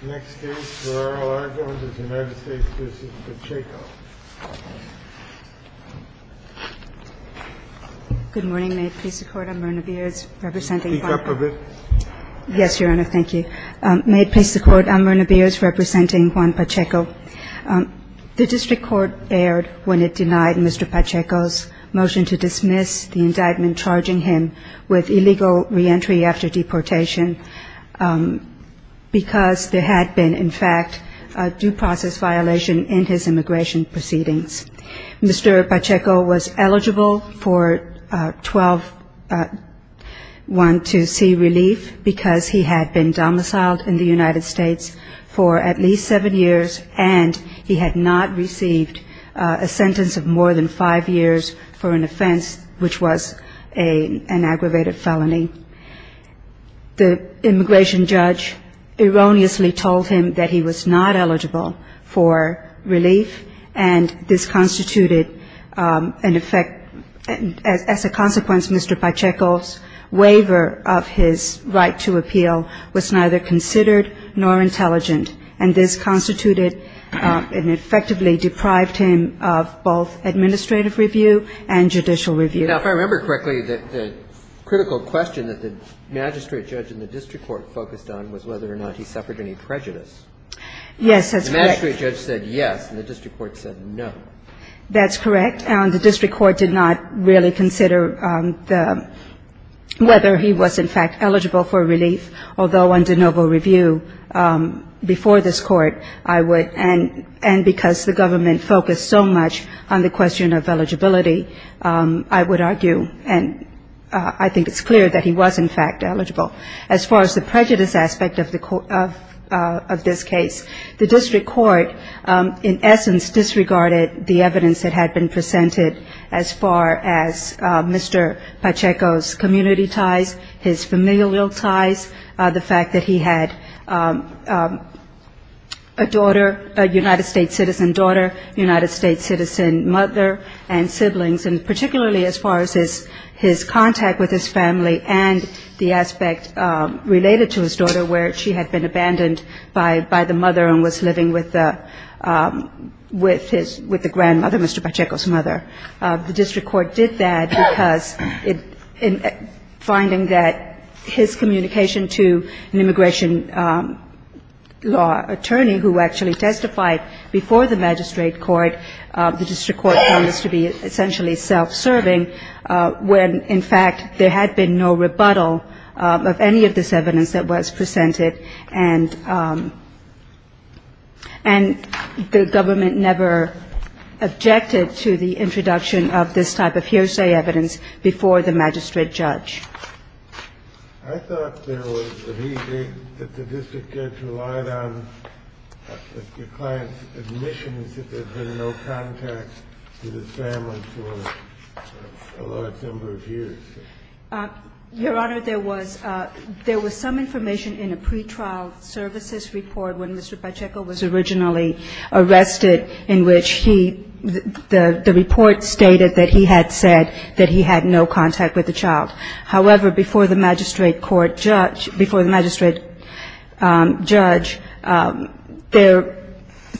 Good morning, may it please the court, I'm Myrna Beers representing Juan Pacheco. The district court erred when it denied Mr. Pacheco's motion to dismiss the indictment charging him with illegal reentry after deportation because there had been in fact a due process violation in his immigration proceedings. Mr. Pacheco was eligible for 12-1 to see relief because he had been domiciled in the United States for at least seven years and he had not received a sentence of more than five years for an offense which was an aggravated felony. The immigration judge erroneously told him that he was not eligible for relief and this constituted an effect, as a consequence Mr. Pacheco's waiver of his right to appeal was neither considered nor intelligent and this constituted and effectively deprived him of both administrative review and judicial review. Now, if I remember correctly, the critical question that the magistrate judge and the district court focused on was whether or not he suffered any prejudice. Yes, that's correct. The magistrate judge said yes and the district court said no. That's correct. The district court did not really consider whether he was in fact eligible for relief, although on de novo review before this court I would, and because the government focused so much on the question of eligibility, I would argue and I think it's clear that he was in fact eligible. As far as the prejudice aspect of this case, the district court in essence disregarded the evidence that had been presented as far as Mr. Pacheco's community ties, his familial ties, the fact that he had a daughter, a United States citizen daughter, a United States citizen mother and siblings, and particularly as far as his contact with his family and the aspect related to his daughter where she had been abandoned by the mother and was living with the grandmother, Mr. Pacheco's mother. The district court did that because in finding that his communication to an immigration law attorney who actually testified before the magistrate court, the district court found this to be essentially self-serving when in fact there had been no rebuttal of any of this evidence that was presented and the government never objected to the interest reduction of this type of hearsay evidence before the magistrate judge. I thought there was a view that the district judge relied on the client's admissions that there had been no contact with his family for a large number of years. Your Honor, there was some information in a pretrial services report when Mr. Pacheco was originally arrested in which he, the report stated that he had said that he had no contact with the child. However, before the magistrate court judge, before the magistrate judge,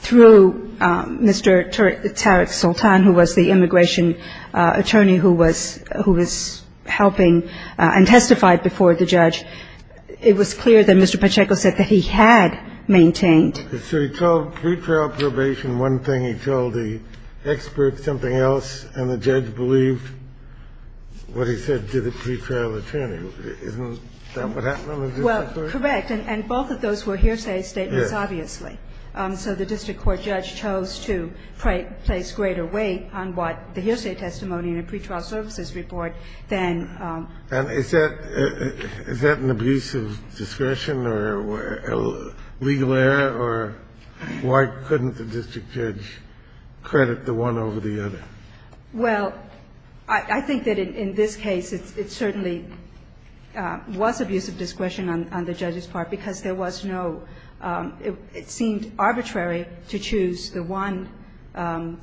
through Mr. Tariq Sultan, who was the immigration attorney who was helping and testified before the judge, it was clear that Mr. Pacheco said that he had maintained. So he told pretrial probation one thing, he told the expert something else, and the judge believed what he said to the pretrial attorney. Isn't that what happened on the district court? Well, correct. And both of those were hearsay statements, obviously. So the district court judge chose to place greater weight on what the hearsay testimony in a pretrial services report than the district court. And is that an abuse of discretion or a legal error? Or why couldn't the district judge credit the one over the other? Well, I think that in this case it certainly was abuse of discretion on the judge's part because there was no – it seemed arbitrary to choose the one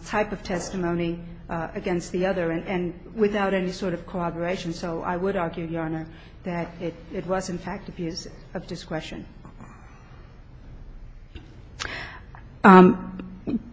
type of testimony against the other and without any sort of corroboration. So I would argue, Your Honor, that it was, in fact, abuse of discretion.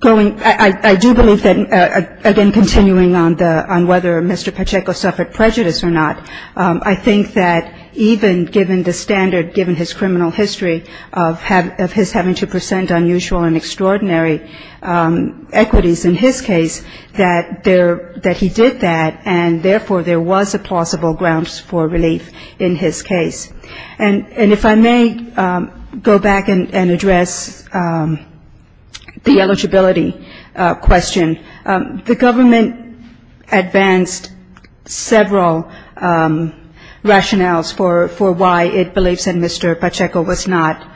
Going – I do believe that, again, continuing on the – on whether Mr. Pacheco suffered prejudice or not, I think that even given the standard, given his criminal history of his having to present unusual and extraordinary equities in his case, that he did that and, therefore, there was a plausible grounds for relief in his case. And if I may go back and address the eligibility question, the government advanced several rationales for why it believes that Mr. Pacheco was not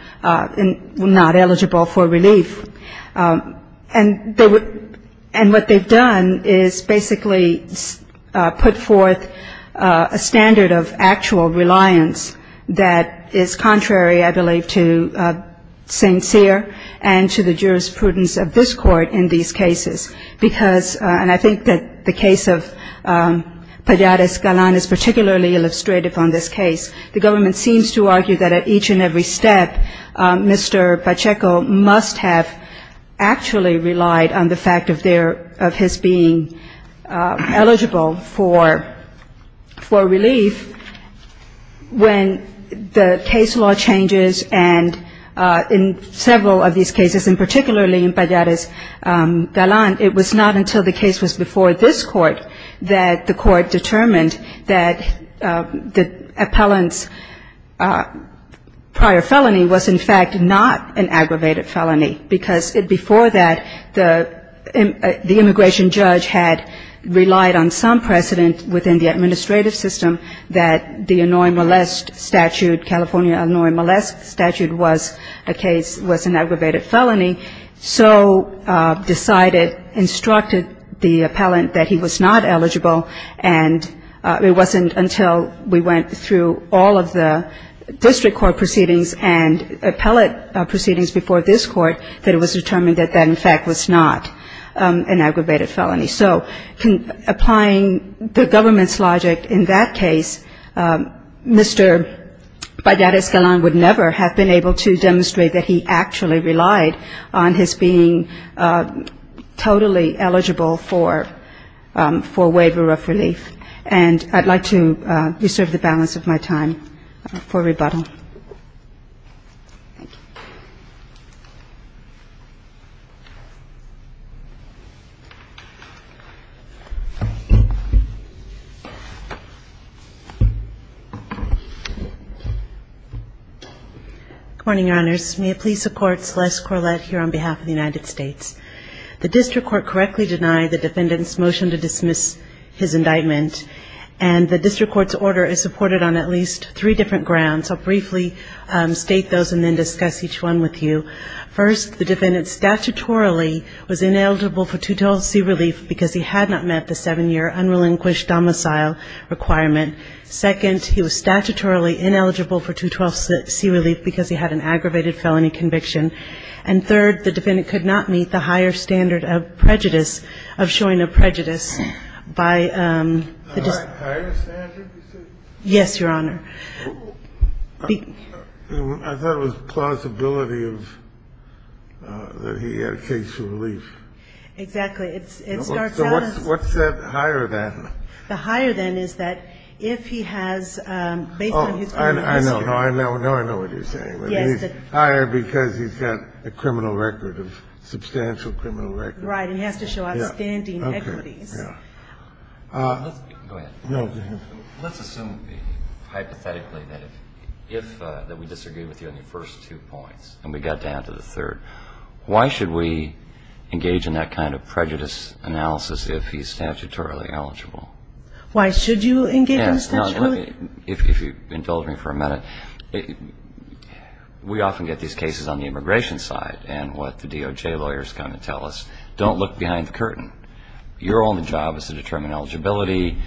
eligible for relief. And they would – and what they've done is basically put forth a standard of actual reliance that is contrary, I believe, to St. Cyr and to the jurisprudence of this Court in these cases. Because – and I think that the case of Palladas Galan is particularly illustrative on this case. The government seems to argue that at each and every step, Mr. Pacheco must have actually relied on the fact of there – of his being eligible for relief. When the case law changes, and in several of these cases, and particularly in Palladas Galan, it was not until the case was before this Court that the Court determined that the appellant's prior felony was, in fact, not an aggravated felony, because before that, the immigration judge had relied on some precedent within the administrative system that the annoy-molest statute, California annoy-molest statute was a case – was an aggravated felony, so decided – instructed the appellant that he was not eligible, and it wasn't until we went through all of the district court proceedings and appellate proceedings before this Court that it was determined that that, in fact, was not an aggravated felony. So applying the government's logic in that case, Mr. Palladas Galan would never have been able to demonstrate that he was eligible for relief. And I'd like to reserve the balance of my time for rebuttal. Thank you. Good morning, Your Honors. May it please the Court, Celeste Corlett here on behalf of the United States. The district court correctly denied the defendant's motion to dismiss his indictment, and the district court's order is supported on at least three different grounds. I'll briefly state those and then discuss each one with you. First, the defendant statutorily was ineligible for 212C relief because he had not met the seven-year unrelinquished domicile requirement. Second, he was statutorily ineligible for 212C relief because he had an aggravated felony conviction. And third, the defendant statutorily was ineligible for 212C relief because he had not met the seven-year unrelinquished Mr. Palladas, did you want to comment on the higher standard of prejudice, of showing a prejudice by the district court? The higher standard, you said? Yes, Your Honor. I thought it was plausibility of that he had a case for relief. Exactly. It starts out as the... What's that higher than? It has to show outstanding equities. Let's assume hypothetically that if we disagree with you on the first two points and we got down to the third, why should we engage in that kind of prejudice analysis if he's statutorily eligible? Why should you engage in statutorily? If you indulge me for a minute, we often get these cases on the immigration side and what the DOJ lawyers kind of tell us, don't look behind the curtain. Your only job is to determine eligibility.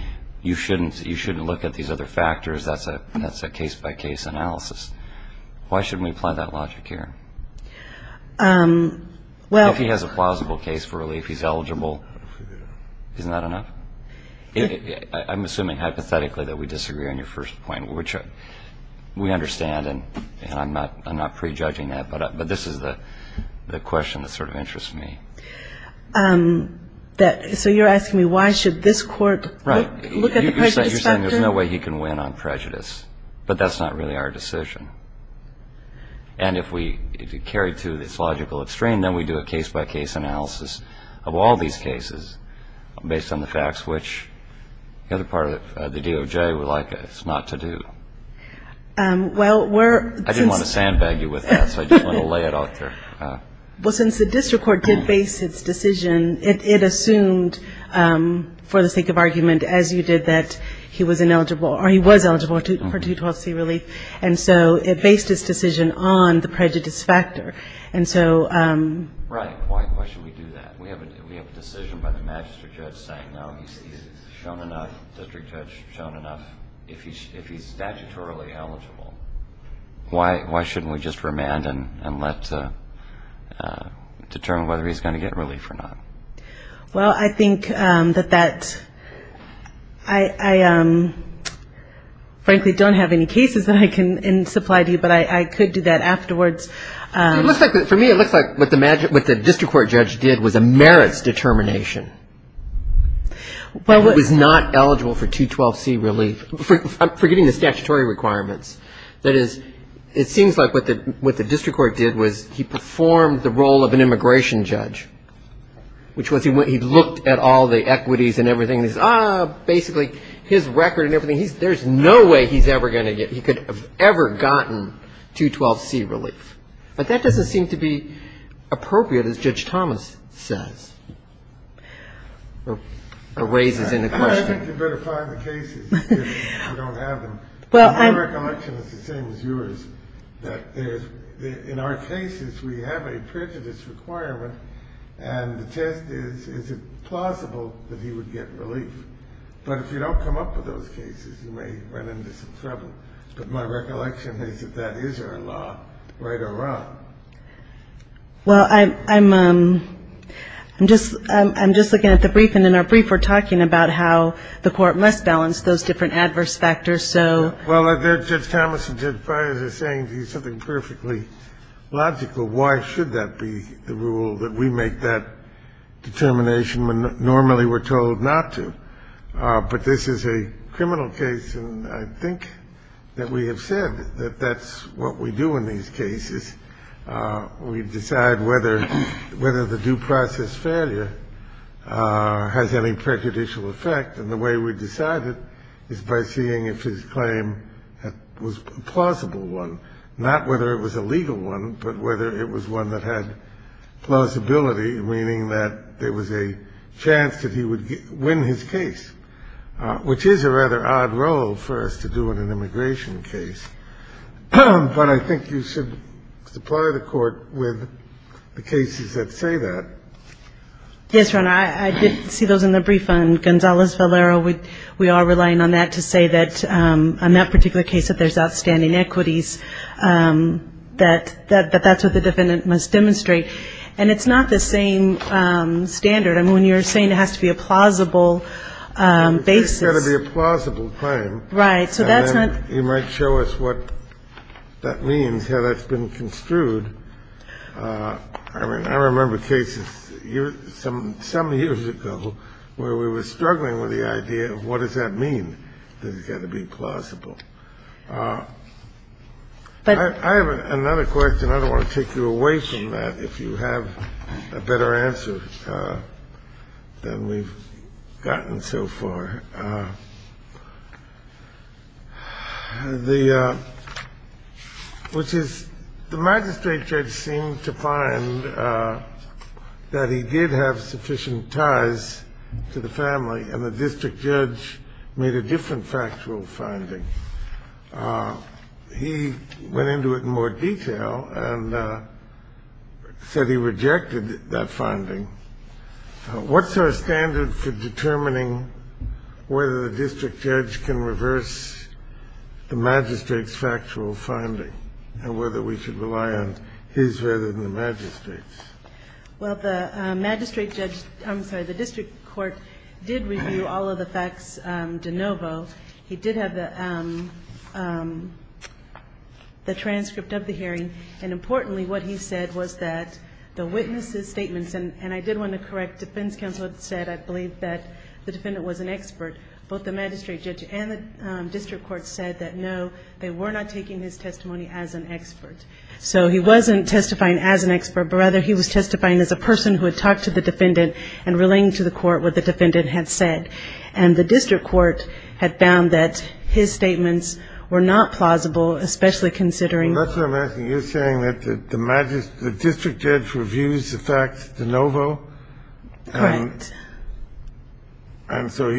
You shouldn't look at these other factors. That's a case-by-case analysis. Why shouldn't we apply that logic here? Well... I'm assuming hypothetically that we disagree on your first point, which we understand and I'm not prejudging that, but this is the question that sort of interests me. So you're asking me why should this court look at the prejudice factor? Right. You're saying there's no way he can win on prejudice, but that's not really our decision. And if we carry to this logical extreme, then we do a case-by-case analysis of all these cases based on the facts, which the other part of the DOJ would like us not to do. I didn't want to sandbag you with that, so I just want to lay it out there. Well, since the district court did base its decision, it assumed for the sake of argument, as you did, that he was ineligible or he was eligible for 212C relief, and so it based its decision on the prejudice factor. Right. Why should we do that? We have a decision by the magistrate judge saying, no, he's shown enough, the district judge has shown enough, if he's statutorily eligible. Why shouldn't we just remand and determine whether he's going to get relief or not? Well, I think that that's, I frankly don't have any cases that I can supply to you, but I could do that afterwards. For me, it looks like what the district court judge did was a merits determination. It was not eligible for 212C relief. I'm forgetting the statutory requirements. That is, it seems like what the district court did was he performed the role of an immigration judge. Which was he looked at all the equities and everything, and he says, ah, basically his record and everything, there's no way he's ever going to get, he could have ever gotten 212C relief. But that doesn't seem to be appropriate, as Judge Thomas says, or raises in the question. You'd better find the cases if you don't have them. My recollection is the same as yours, that there's, in our cases, we have a prejudice requirement, and the test is, is it plausible that he would get relief? But if you don't come up with those cases, you may run into some trouble. But my recollection is that that is our law, right or wrong. Well, I'm just looking at the brief, and in our brief we're talking about how the court must balance those different adverse factors. Well, Judge Thomas and Judge Breyer are saying something perfectly logical. Why should that be the rule, that we make that determination when normally we're told not to? But this is a criminal case, and I think that we have said that that's what we do in these cases. We decide whether the due process failure has any prejudicial effect. And the way we decide it is by seeing if his claim was a plausible one, not whether it was a legal one, but whether it was one that had plausibility, meaning that there was a chance that he would win his case, which is a rather odd role for us to do in an immigration case. But I think you should supply the court with the cases that say that. Yes, Your Honor, I did see those in the brief on Gonzalez-Valero. We are relying on that to say that on that particular case that there's outstanding equities, that that's what the defendant must demonstrate. And it's not the same standard. I mean, when you're saying it has to be a plausible basis. It's got to be a plausible claim. Right. So that's not. And then you might show us what that means, how that's been construed. I mean, I remember cases some years ago where we were struggling with the idea of what does that mean, that it's got to be plausible. But I have another question. I don't want to take you away from that if you have a better answer than we've gotten so far. Which is the magistrate judge seemed to find that he did have sufficient ties to the family and the district judge made a different factual finding. He went into it in more detail and said he rejected that finding. What's our standard for determining whether the district judge can reverse the magistrate's factual finding and whether we should rely on his rather than the magistrate's? Well, the magistrate judge, I'm sorry, the district court did review all of the facts de novo. He did have the transcript of the hearing. And importantly, what he said was that the witnesses' statements, and I did want to correct, defense counsel said I believe that the defendant was an expert. Both the magistrate judge and the district court said that no, they were not taking his testimony as an expert. So he wasn't testifying as an expert, but rather he was testifying as a person who had talked to the defendant and relaying to the court what the defendant had said. And the district court had found that his statements were not plausible, especially considering That's what I'm asking. You're saying that the district judge reviews the facts de novo? Correct. And so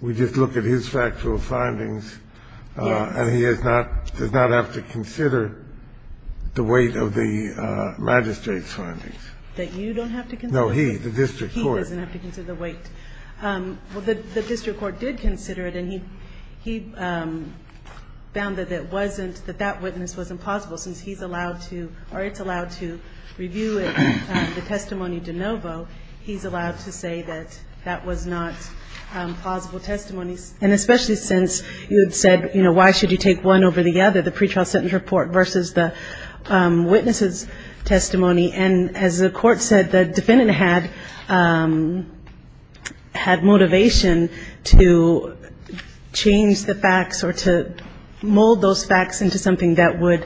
we just look at his factual findings. Yes. And he does not have to consider the weight of the magistrate's findings. That you don't have to consider? No, he, the district court. So he doesn't have to consider the weight. Well, the district court did consider it, and he found that it wasn't, that that witness wasn't plausible, since he's allowed to, or it's allowed to review it, the testimony de novo. He's allowed to say that that was not plausible testimony. And especially since you had said, you know, why should you take one over the other, And as the court said, the defendant had, had motivation to change the facts or to mold those facts into something that would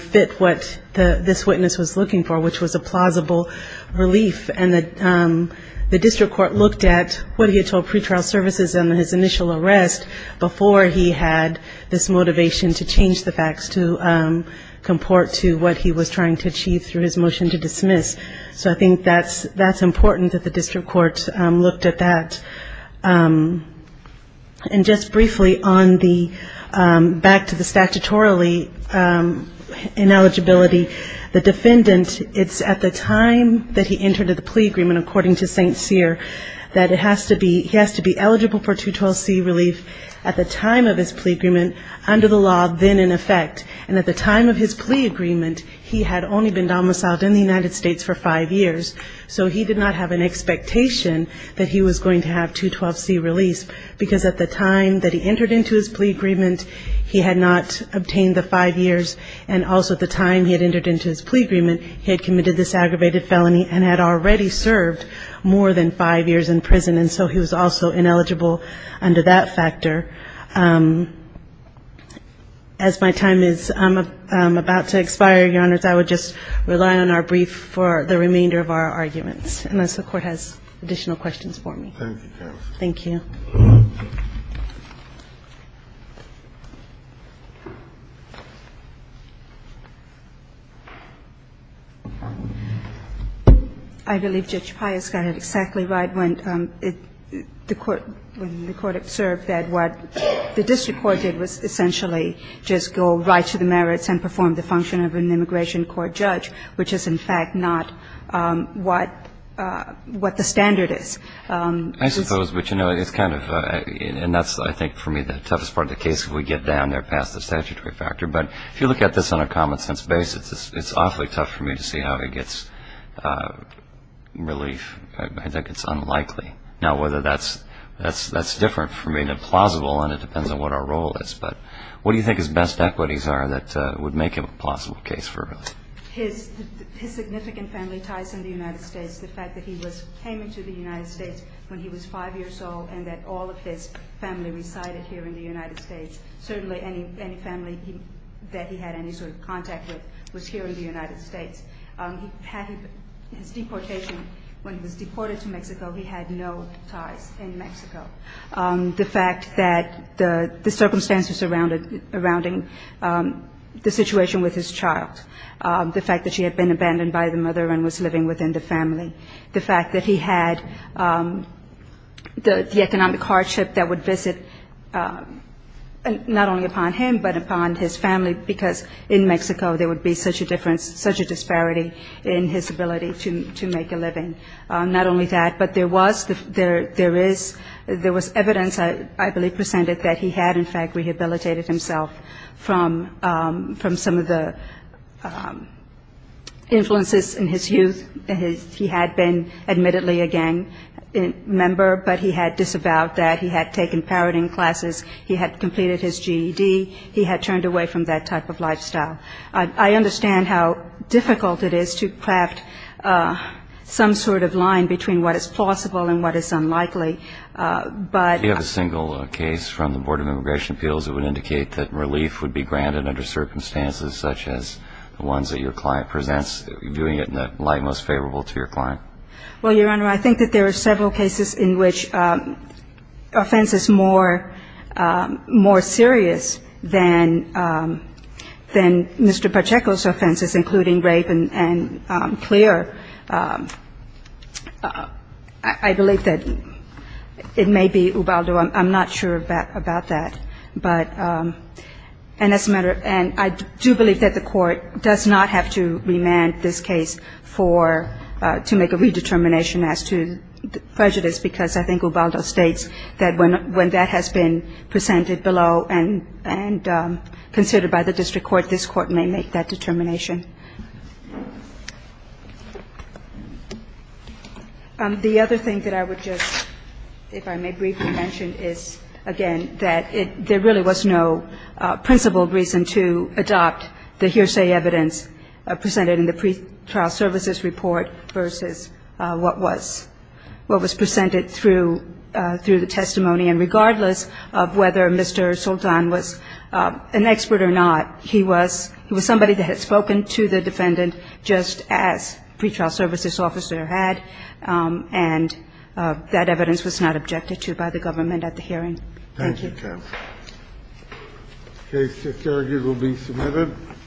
fit what this witness was looking for, which was a plausible relief. And the district court looked at what he had told pretrial services on his initial arrest before he had this motivation to change the facts to comport to what he was trying to achieve through his motion to dismiss. So I think that's, that's important that the district court looked at that. And just briefly on the, back to the statutorily ineligibility, the defendant, it's at the time that he entered into the plea agreement, according to St. Cyr, that it has to be, he has to be eligible for 212C relief at the time of his plea agreement, under the law, then in effect, and at the time of his plea agreement, he had only been domiciled in the United States for five years, so he did not have an expectation that he was going to have 212C release, because at the time that he entered into his plea agreement, he had not obtained the five years, and also at the time he had entered into his plea agreement, he had committed this aggravated felony and had already served more than five years in prison, and so he was also ineligible under that factor. As my time is about to expire, Your Honors, I would just rely on our brief for the remainder of our arguments, unless the Court has additional questions for me. Thank you, counsel. Thank you. I believe Judge Pius got it exactly right when the Court observed that what the district court did was essentially just go right to the merits and perform the function of an immigration court judge, which is in fact not what the standard is. I suppose, but you know, it's kind of, and that's I think for me the toughest part of the case, if we get down there past the statutory factor, but if you look at this on a common sense basis, it's awfully tough for me to see how he gets relief. I think it's unlikely. Now, whether that's different for me than plausible, and it depends on what our role is, but what do you think his best equities are that would make him a plausible case for relief? His significant family ties in the United States, the fact that he came into the United States when he was five years old and that all of his family resided here in the United States, certainly any family that he had any sort of contact with was here in the United States. His deportation, when he was deported to Mexico, he had no ties in Mexico. The fact that the circumstances surrounding the situation with his child, the fact that she had been abandoned by the mother and was living within the family, the fact that he had the economic hardship that would visit not only upon him, but upon his family, because in Mexico there would be such a difference, such a disparity in his ability to make a living. And not only that, but there was evidence, I believe, presented that he had in fact rehabilitated himself from some of the influences in his youth. He had been admittedly a gang member, but he had disavowed that. He had taken parroting classes. He had completed his GED. He had turned away from that type of lifestyle. I understand how difficult it is to craft some sort of line between what is plausible and what is unlikely, but you have a single case from the Board of Immigration Appeals that would indicate that relief would be granted under circumstances such as the ones that your client presents, doing it in the light most favorable to your client. Well, Your Honor, I think that there are several cases in which offense is more serious than Mr. Pacheco's offenses, including rape and clear. I believe that it may be Ubaldo. I'm not sure about that. And I do believe that the Court does not have to remand this case to make a redetermination as to prejudice, because I think Ubaldo states that when that has been presented below and considered by the district court, this court may make that determination. The other thing that I would just, if I may briefly mention, is, again, that there really was no principled reason to adopt the hearsay evidence presented in the pretrial services report versus what was presented through the testimony. And regardless of whether Mr. Sultan was an expert or not, he was somebody that had spoken to the defendant, just as pretrial services officer had, and that evidence was not objected to by the government at the hearing. Thank you. Thank you, counsel. The case at Carragher will be submitted.